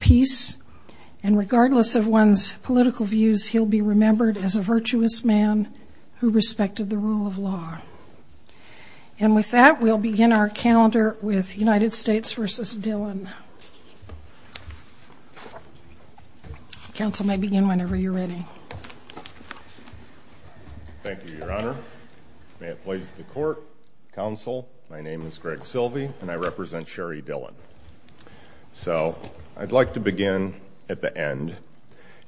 May it please the Court, Counsel, my name is Greg Silvey and I represent Cherie Dillon. So I'd like to begin at the end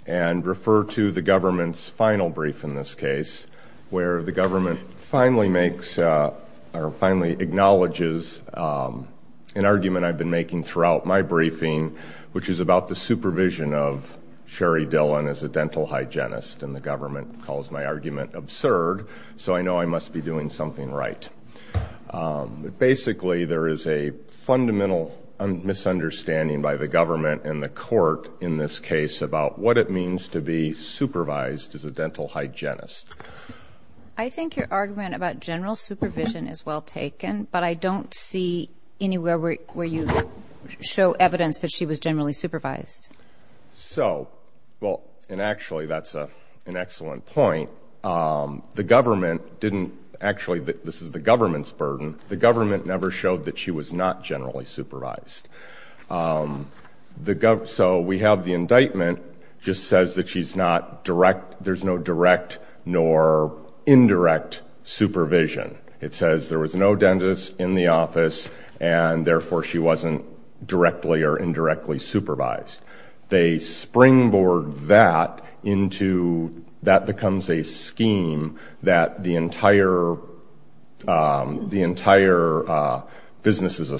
and refer to the government's final brief in this case where the government finally makes or finally acknowledges an argument I've been making throughout my briefing which is about the supervision of Cherie Dillon as a dental hygienist and the government calls my argument absurd so I know I must be doing something right. Basically there is a fundamental misunderstanding by the government and the court in this case about what it means to be supervised as a dental hygienist. I think your argument about general supervision is well taken but I don't see anywhere where you show evidence that she was generally supervised. So, well, and actually that's an excellent point. The government didn't, actually this is the government's burden, the government never showed that she was not generally supervised. So we have the indictment just says that she's not direct, there's no direct nor indirect supervision. It says there was no dentist in the office and therefore she wasn't directly or indirectly supervised. They springboard that into, that becomes a scheme that the entire business is a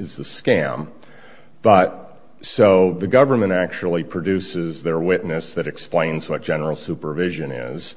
scam. So the government actually produces their witness that explains what general supervision is.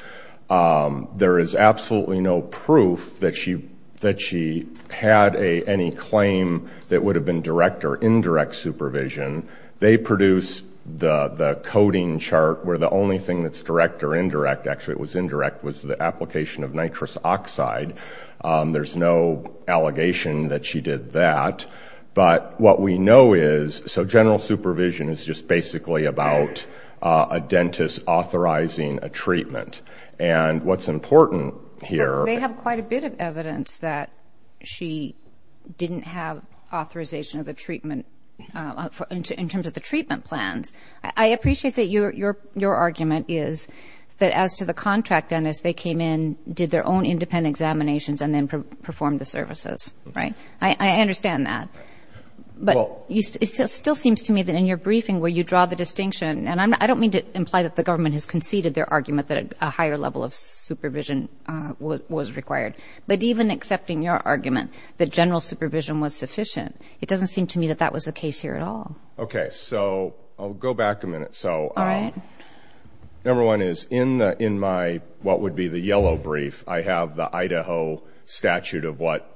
There is absolutely no proof that she had any claim that would have been direct or indirect supervision. They produce the coding chart where the only thing that's direct or indirect, actually it was indirect, was the application of nitrous oxide. There's no allegation that she did that. But what we know is, so general supervision is just basically about a dentist authorizing a treatment. And what's important here... They have quite a bit of evidence that she didn't have authorization of the treatment in terms of the treatment plans. I appreciate that your argument is that as to the contract dentist, they came in, did their own independent examinations and then performed the services. I understand that. But it still seems to me that in your briefing where you draw the distinction, and I don't mean to imply that the government has conceded their argument that a higher level of supervision was required. But even accepting your argument that general supervision was sufficient, it doesn't seem to me that that was the case here at all. Okay, so I'll go back a minute. All right. Number one is, in my what would be the yellow brief, I have the Idaho statute of what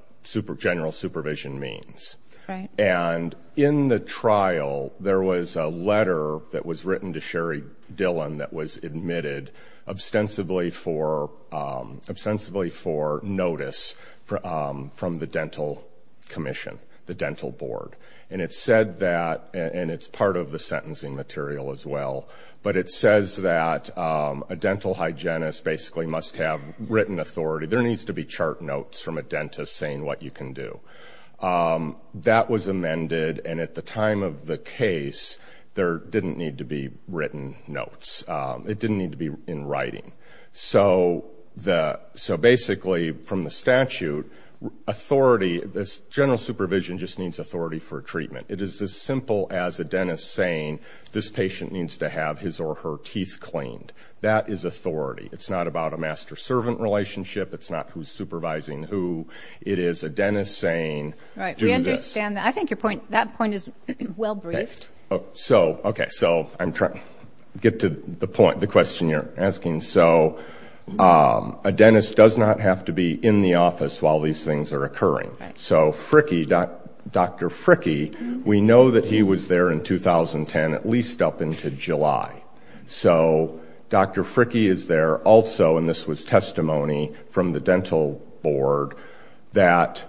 general supervision means. Right. And in the trial, there was a letter that was written to Sherry Dillon that was admitted ostensibly for notice from the dental commission, the dental board. And it said that, and it's part of the sentencing material as well, but it says that a dental hygienist basically must have written authority. There needs to be chart notes from a dentist saying what you can do. That was amended, and at the time of the case, there didn't need to be written notes. It didn't need to be in writing. So basically from the statute, authority, general supervision just means authority for treatment. It is as simple as a dentist saying this patient needs to have his or her teeth cleaned. That is authority. It's not about a master-servant relationship. It's not who's supervising who. It is a dentist saying do this. Right. We understand that. I think your point, that point is well briefed. Okay, so I'm trying to get to the point, the question you're asking. So a dentist does not have to be in the office while these things are occurring. So Dr. Fricke, we know that he was there in 2010, at least up into July. So Dr. Fricke is there also, and this was testimony from the dental board, that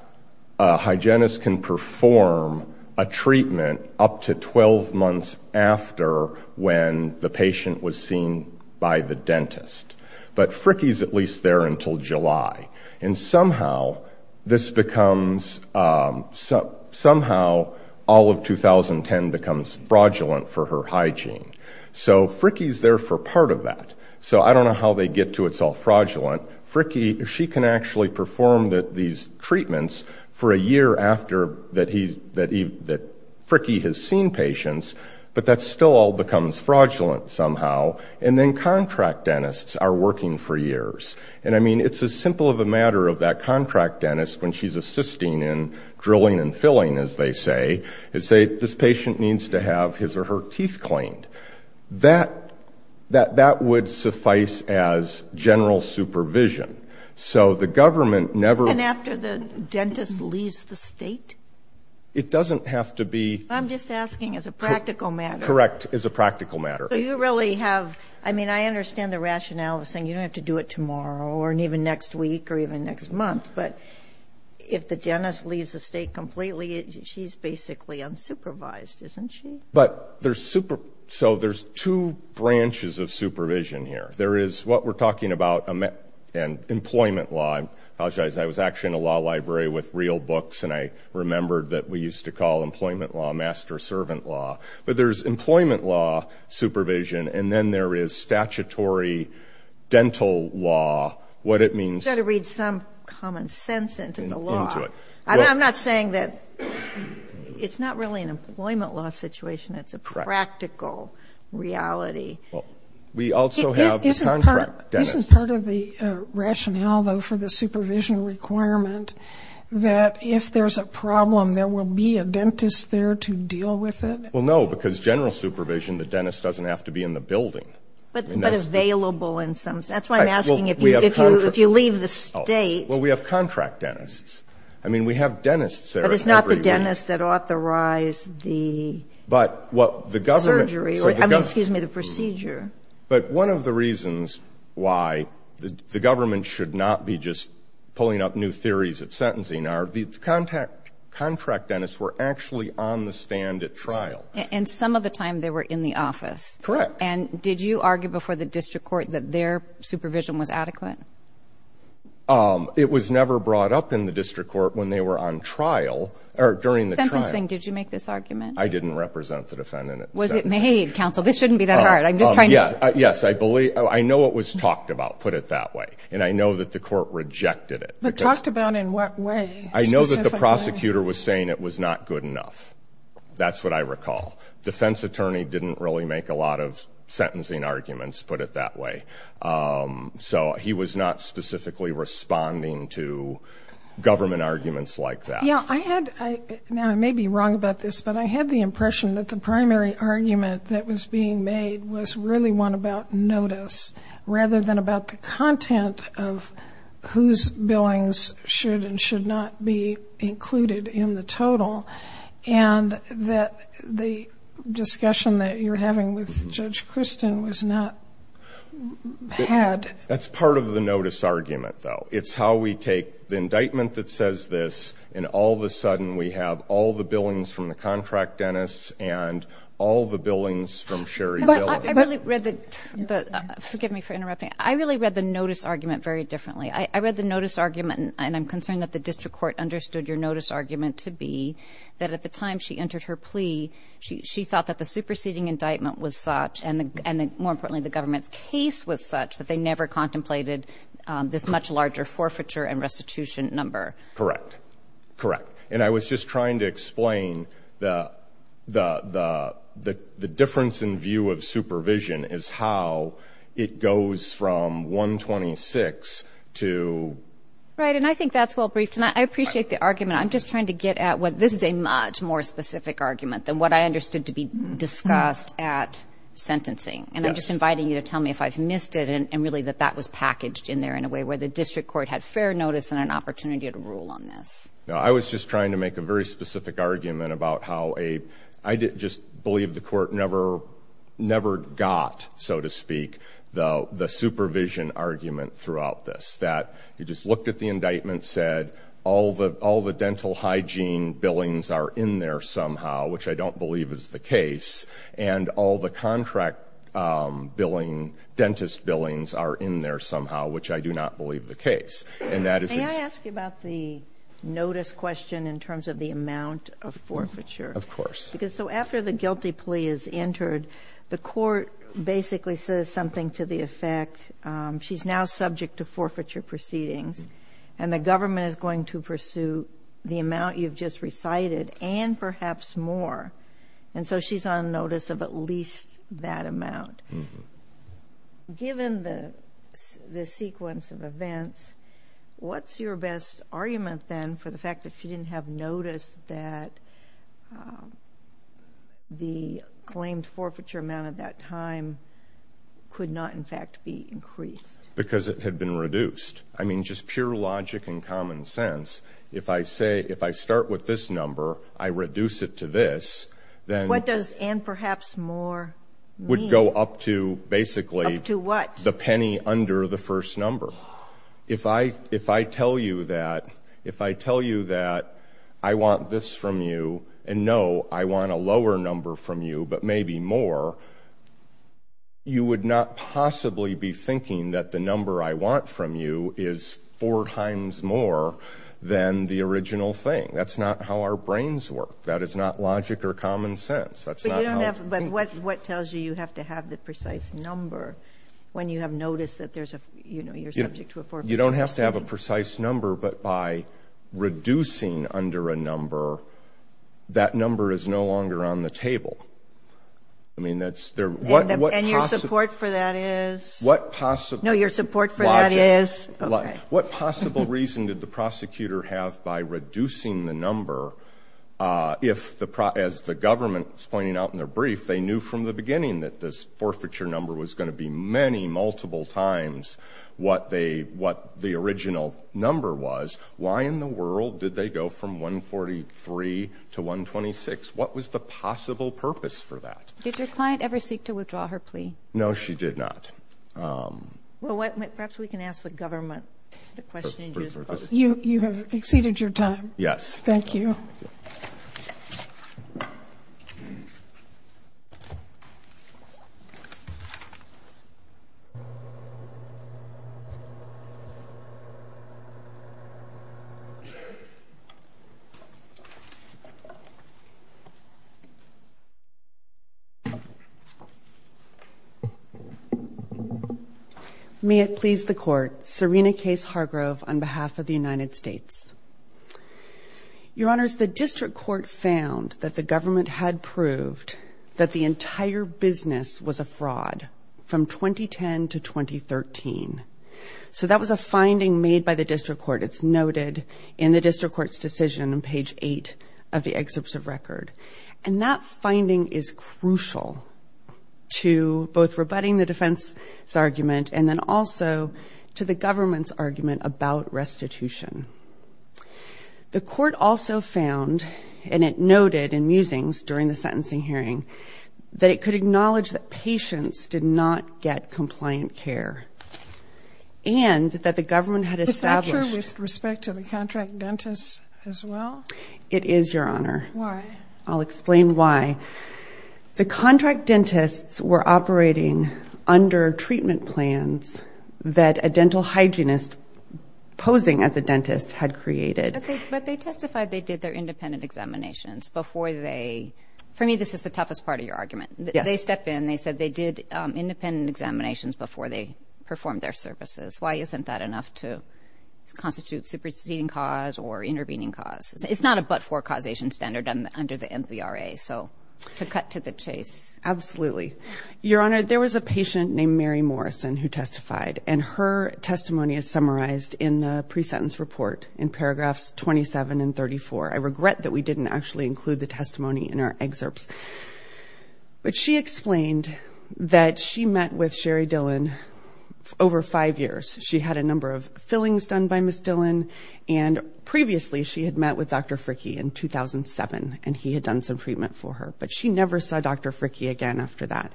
a hygienist can perform a treatment up to 12 months after when the patient was seen by the dentist. But Fricke's at least there until July. And somehow this becomes, somehow all of 2010 becomes fraudulent for her hygiene. So Fricke's there for part of that. So I don't know how they get to it's all fraudulent. Fricke, she can actually perform these treatments for a year after that Fricke has seen patients, but that still all becomes fraudulent somehow. And then contract dentists are working for years. And, I mean, it's as simple of a matter of that contract dentist, when she's assisting in drilling and filling, as they say, this patient needs to have his or her teeth cleaned. That would suffice as general supervision. So the government never. And after the dentist leaves the state? It doesn't have to be. I'm just asking as a practical matter. Correct, as a practical matter. So you really have, I mean, I understand the rationale of saying you don't have to do it tomorrow or even next week or even next month. But if the dentist leaves the state completely, she's basically unsupervised, isn't she? So there's two branches of supervision here. There is what we're talking about and employment law. I apologize. I was actually in a law library with real books, and I remembered that we used to call employment law master-servant law. But there's employment law supervision, and then there is statutory dental law. You've got to read some common sense into the law. I'm not saying that it's not really an employment law situation. It's a practical reality. We also have contract dentists. Isn't part of the rationale, though, for the supervision requirement that if there's a problem, there will be a dentist there to deal with it? Well, no, because general supervision, the dentist doesn't have to be in the building. But available in some sense. That's why I'm asking if you leave the state. Well, we have contract dentists. I mean, we have dentists there. But it's not the dentist that authorized the surgery. I mean, excuse me, the procedure. But one of the reasons why the government should not be just pulling up new theories of sentencing are the contract dentists were actually on the stand at trial. And some of the time they were in the office. Correct. And did you argue before the district court that their supervision was adequate? It was never brought up in the district court when they were on trial or during the trial. Sentencing, did you make this argument? I didn't represent the defendant. Was it made, counsel? This shouldn't be that hard. I'm just trying to. Yes, I know it was talked about, put it that way. And I know that the court rejected it. But talked about in what way? I know that the prosecutor was saying it was not good enough. That's what I recall. Defense attorney didn't really make a lot of sentencing arguments, put it that way. So he was not specifically responding to government arguments like that. Yeah, I had, now I may be wrong about this, but I had the impression that the primary argument that was being made was really one about notice rather than about the content of whose billings should and should not be included in the total. And that the discussion that you're having with Judge Christin was not had. That's part of the notice argument, though. It's how we take the indictment that says this and all of a sudden we have all the billings from the contract dentists and all the billings from Sherry Diller. But I really read the, forgive me for interrupting, I really read the notice argument very differently. I read the notice argument, and I'm concerned that the district court understood your notice argument to be that at the time she entered her plea, she thought that the superseding indictment was such, and more importantly the government's case was such, that they never contemplated this much larger forfeiture and restitution number. Correct. Correct. And I was just trying to explain the difference in view of supervision is how it goes from 126 to... Right, and I think that's well briefed, and I appreciate the argument. I'm just trying to get at what this is a much more specific argument than what I understood to be discussed at sentencing. And I'm just inviting you to tell me if I've missed it and really that that was packaged in there in a way where the district court had fair notice and an opportunity to rule on this. No, I was just trying to make a very specific argument about how a, I just believe the court never got, so to speak, the supervision argument throughout this. It's that you just looked at the indictment, said all the dental hygiene billings are in there somehow, which I don't believe is the case, and all the contract billing, dentist billings are in there somehow, which I do not believe the case. And that is... May I ask you about the notice question in terms of the amount of forfeiture? Of course. So after the guilty plea is entered, the court basically says something to the effect she's now subject to forfeiture proceedings and the government is going to pursue the amount you've just recited and perhaps more. And so she's on notice of at least that amount. Given the sequence of events, what's your best argument then for the fact that she didn't have notice that the claimed forfeiture amount at that time could not in fact be increased? Because it had been reduced. I mean, just pure logic and common sense. If I say, if I start with this number, I reduce it to this, then... What does and perhaps more mean? Would go up to basically... Up to what? The penny under the first number. If I tell you that I want this from you and, no, I want a lower number from you but maybe more, you would not possibly be thinking that the number I want from you is four times more than the original thing. That's not how our brains work. That is not logic or common sense. But what tells you you have to have the precise number when you have notice that you're subject to a forfeiture? You don't have to have a precise number, but by reducing under a number, that number is no longer on the table. And your support for that is? No, your support for that is? What possible reason did the prosecutor have by reducing the number if, as the government is pointing out in their brief, they knew from the beginning that this forfeiture number was going to be many, multiple times what the original number was, why in the world did they go from 143 to 126? What was the possible purpose for that? Did your client ever seek to withdraw her plea? No, she did not. Well, perhaps we can ask the government the question... You have exceeded your time. Yes. Thank you. Thank you. May it please the Court. Serena Case Hargrove on behalf of the United States. Your Honors, the District Court found that the government had proved that the entire business was a fraud from 2010 to 2013. So that was a finding made by the District Court. It's noted in the District Court's decision on page 8 of the excerpts of record. And that finding is crucial to both rebutting the defense's argument and then also to the government's argument about restitution. The Court also found, and it noted in Musings during the sentencing hearing, that it could acknowledge that patients did not get compliant care. And that the government had established... Is that true with respect to the contract dentists as well? It is, Your Honor. Why? I'll explain why. The contract dentists were operating under treatment plans that a dental hygienist, posing as a dentist, had created. But they testified they did their independent examinations before they... For me, this is the toughest part of your argument. Yes. They stepped in. They said they did independent examinations before they performed their services. Why isn't that enough to constitute superseding cause or intervening cause? It's not a but-for causation standard under the MVRA. So to cut to the chase. Absolutely. Your Honor, there was a patient named Mary Morrison who testified. And her testimony is summarized in the pre-sentence report in paragraphs 27 and 34. I regret that we didn't actually include the testimony in our excerpts. But she explained that she met with Sherry Dillon over five years. She had a number of fillings done by Ms. Dillon. And previously, she had met with Dr. Fricke in 2007. And he had done some treatment for her. But she never saw Dr. Fricke again after that.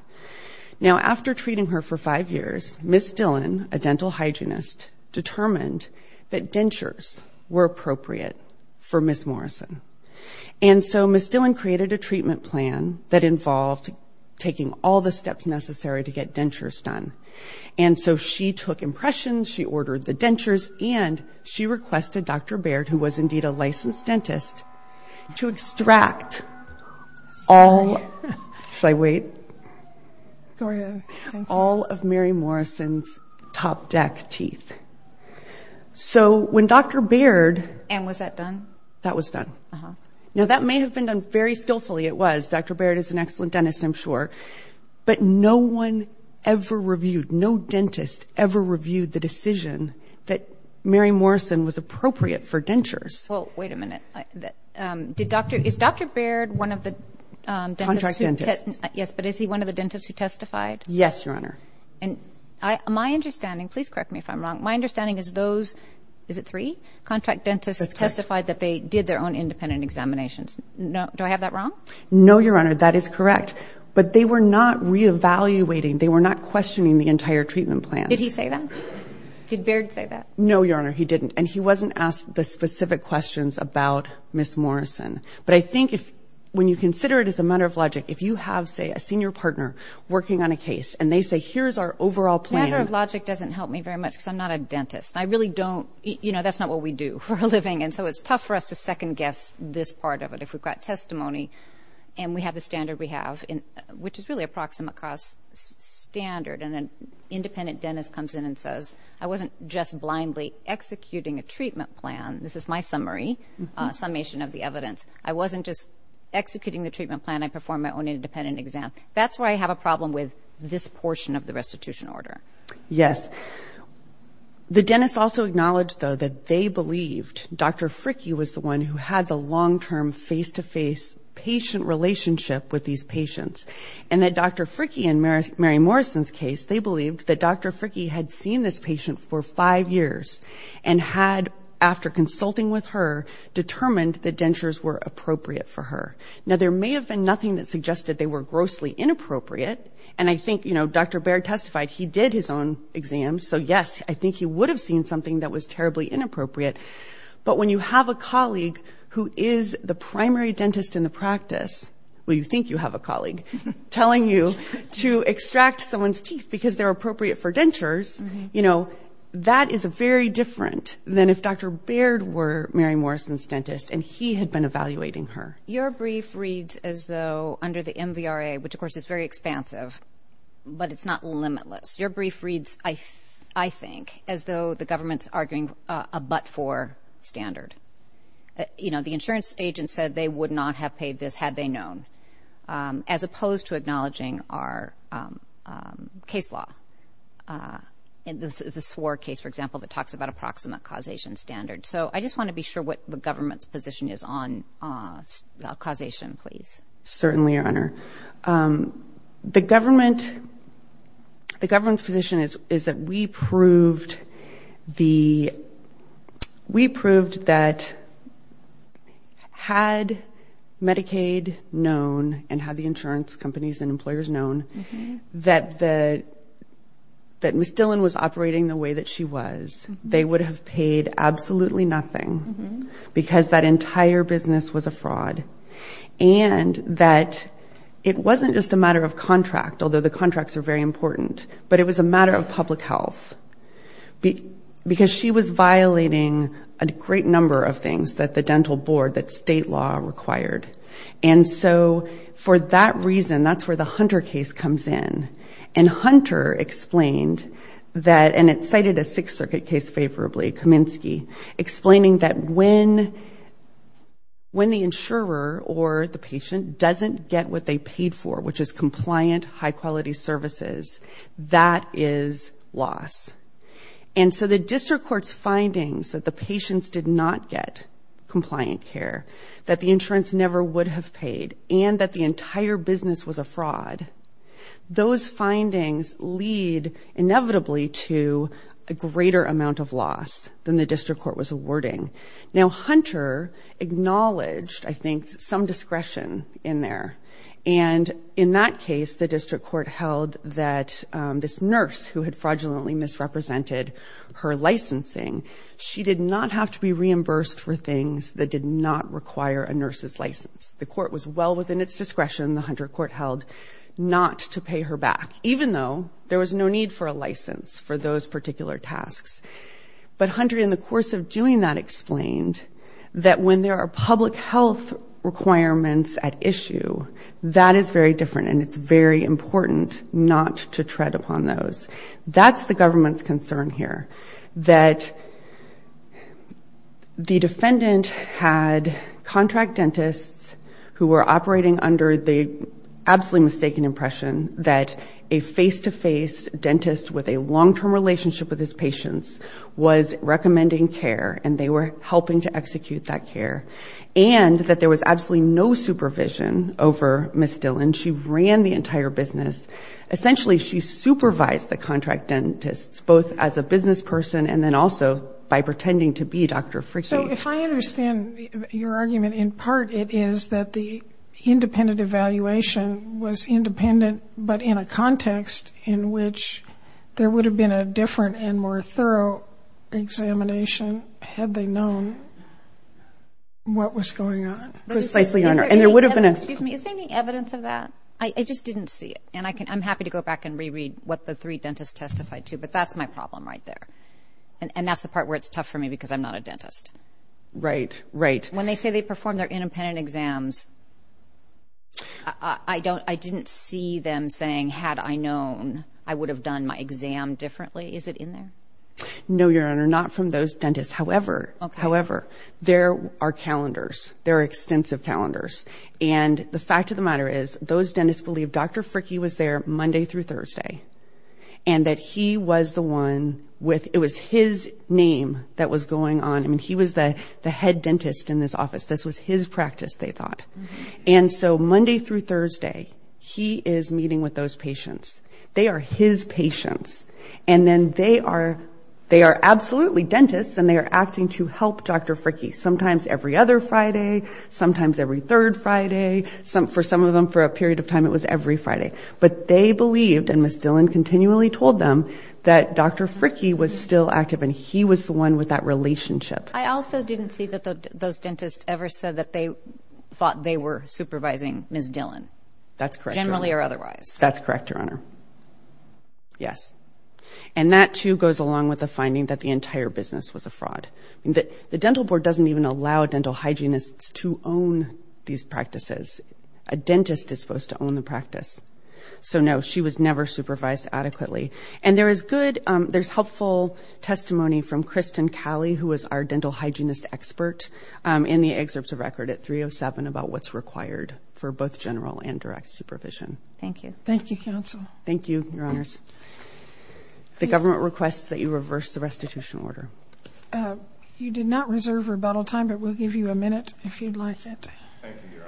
Now, after treating her for five years, Ms. Dillon, a dental hygienist, determined that dentures were appropriate for Ms. Morrison. And so Ms. Dillon created a treatment plan that involved taking all the steps necessary to get dentures done. And so she took impressions. She ordered the dentures. And she requested Dr. Baird, who was indeed a licensed dentist, to extract all of Mary Morrison's top deck teeth. So when Dr. Baird. And was that done? That was done. Now, that may have been done very skillfully. It was. Dr. Baird is an excellent dentist, I'm sure. But no one ever reviewed, no dentist ever reviewed the decision that Mary Morrison was appropriate for dentures. Well, wait a minute. Is Dr. Baird one of the dentists? Contract dentist. Yes, but is he one of the dentists who testified? Yes, Your Honor. And my understanding, please correct me if I'm wrong, my understanding is those, is it three, contract dentists testified that they did their own independent examinations. Do I have that wrong? No, Your Honor, that is correct. But they were not reevaluating, they were not questioning the entire treatment plan. Did he say that? Did Baird say that? No, Your Honor, he didn't. And he wasn't asked the specific questions about Ms. Morrison. But I think when you consider it as a matter of logic, if you have, say, a senior partner working on a case, and they say, here's our overall plan. Matter of logic doesn't help me very much because I'm not a dentist. I really don't, you know, that's not what we do for a living. And so it's tough for us to second guess this part of it. If we've got testimony and we have the standard we have, which is really a proximate cost standard, and an independent dentist comes in and says, I wasn't just blindly executing a treatment plan. This is my summary, summation of the evidence. I wasn't just executing the treatment plan. I performed my own independent exam. That's where I have a problem with this portion of the restitution order. Yes. The dentist also acknowledged, though, that they believed Dr. Fricke was the one who had the long-term face-to-face patient relationship with these patients, and that Dr. Fricke in Mary Morrison's case, they believed that Dr. Fricke had seen this patient for five years and had, after consulting with her, determined that dentures were appropriate for her. Now, there may have been nothing that suggested they were grossly inappropriate. And I think, you know, Dr. Baird testified he did his own exam. So, yes, I think he would have seen something that was terribly inappropriate. But when you have a colleague who is the primary dentist in the practice, well, you think you have a colleague, telling you to extract someone's teeth because they're appropriate for dentures, you know, that is very different than if Dr. Baird were Mary Morrison's dentist and he had been evaluating her. Your brief reads as though, under the MVRA, which, of course, is very expansive, but it's not limitless. Your brief reads, I think, as though the government's arguing a but-for standard. You know, the insurance agent said they would not have paid this had they known, as opposed to acknowledging our case law, the Swore case, for example, that talks about approximate causation standards. So I just want to be sure what the government's position is on causation, please. Certainly, Your Honor. The government's position is that we proved that had Medicaid known and had the insurance companies and employers known that Ms. Dillon was operating the way that she was, they would have paid absolutely nothing because that entire business was a fraud and that it wasn't just a matter of contract, although the contracts are very important, but it was a matter of public health because she was violating a great number of things that the dental board, that state law required. And so for that reason, that's where the Hunter case comes in. And Hunter explained that, and it cited a Sixth Circuit case favorably, Kaminsky, explaining that when the insurer or the patient doesn't get what they paid for, which is compliant, high-quality services, that is loss. And so the district court's findings that the patients did not get compliant care, that the insurance never would have paid, and that the entire business was a fraud, those findings lead inevitably to a greater amount of loss than the district court was awarding. Now, Hunter acknowledged, I think, some discretion in there. And in that case, the district court held that this nurse, who had fraudulently misrepresented her licensing, she did not have to be reimbursed for things that did not require a nurse's license. The court was well within its discretion, the Hunter court held, not to pay her back, even though there was no need for a license for those particular tasks. But Hunter, in the course of doing that, explained that when there are public health requirements at issue, that is very different, and it's very important not to tread upon those. That's the government's concern here, that the defendant had contract dentists who were operating under the absolutely mistaken impression that a face-to-face dentist with a long-term relationship with his patients was recommending care, and they were helping to execute that care, and that there was absolutely no supervision over Ms. Dillon. She ran the entire business. Essentially, she supervised the contract dentists, both as a business person and then also by pretending to be Dr. Fricke. So if I understand your argument, in part it is that the independent evaluation was independent, but in a context in which there would have been a different and more thorough examination had they known what was going on. Precisely, Your Honor. And there would have been a... Excuse me, is there any evidence of that? I just didn't see it. And I'm happy to go back and reread what the three dentists testified to, but that's my problem right there, and that's the part where it's tough for me because I'm not a dentist. Right, right. When they say they performed their independent exams, I didn't see them saying, had I known, I would have done my exam differently. Is it in there? No, Your Honor, not from those dentists. However, there are calendars. There are extensive calendars. And the fact of the matter is those dentists believe Dr. Fricke was there Monday through Thursday and that he was the one with his name that was going on. He was the head dentist in this office. This was his practice, they thought. And so Monday through Thursday, he is meeting with those patients. They are his patients. And then they are absolutely dentists, and they are acting to help Dr. Fricke, sometimes every other Friday, sometimes every third Friday. For some of them, for a period of time, it was every Friday. But they believed, and Ms. Dillon continually told them, that Dr. Fricke was still active and he was the one with that relationship. I also didn't see that those dentists ever said that they thought they were supervising Ms. Dillon. That's correct, Your Honor. Generally or otherwise. That's correct, Your Honor. Yes. And that, too, goes along with the finding that the entire business was a fraud. The dental board doesn't even allow dental hygienists to own these practices. A dentist is supposed to own the practice. So, no, she was never supervised adequately. And there is good, there's helpful testimony from Kristen Calley, who is our dental hygienist expert, in the excerpts of record at 307 about what's required for both general and direct supervision. Thank you, counsel. Thank you, Your Honors. The government requests that you reverse the restitution order. You did not reserve rebuttal time, but we'll give you a minute if you'd like it. Thank you, Your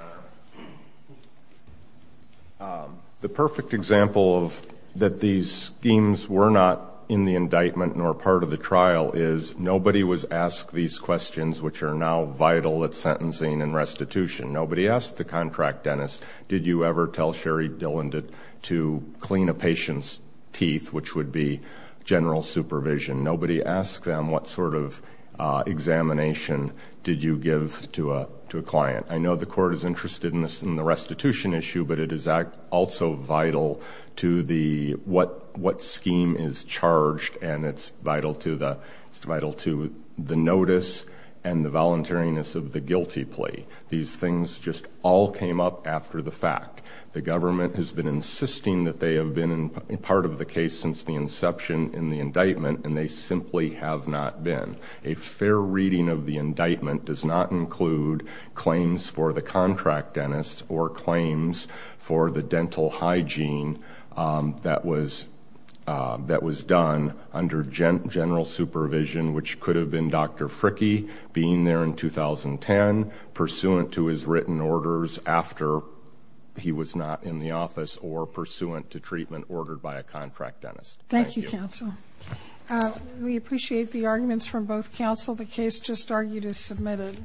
Honor. The perfect example of that these schemes were not in the indictment nor part of the trial is nobody was asked these questions, which are now vital at sentencing and restitution. Nobody asked the contract dentist, did you ever tell Sherry Dillon to clean a patient's teeth, which would be general supervision. Nobody asked them what sort of examination did you give to a client. I know the court is interested in the restitution issue, but it is also vital to what scheme is charged, and it's vital to the notice and the voluntariness of the guilty plea. These things just all came up after the fact. The government has been insisting that they have been part of the case since the inception in the indictment, and they simply have not been. A fair reading of the indictment does not include claims for the contract dentist or claims for the dental hygiene that was done under general supervision, which could have been Dr. Fricke being there in 2010, pursuant to his written orders after he was not in the office, or pursuant to treatment ordered by a contract dentist. Thank you, counsel. We appreciate the arguments from both counsel. The case just argued is submitted.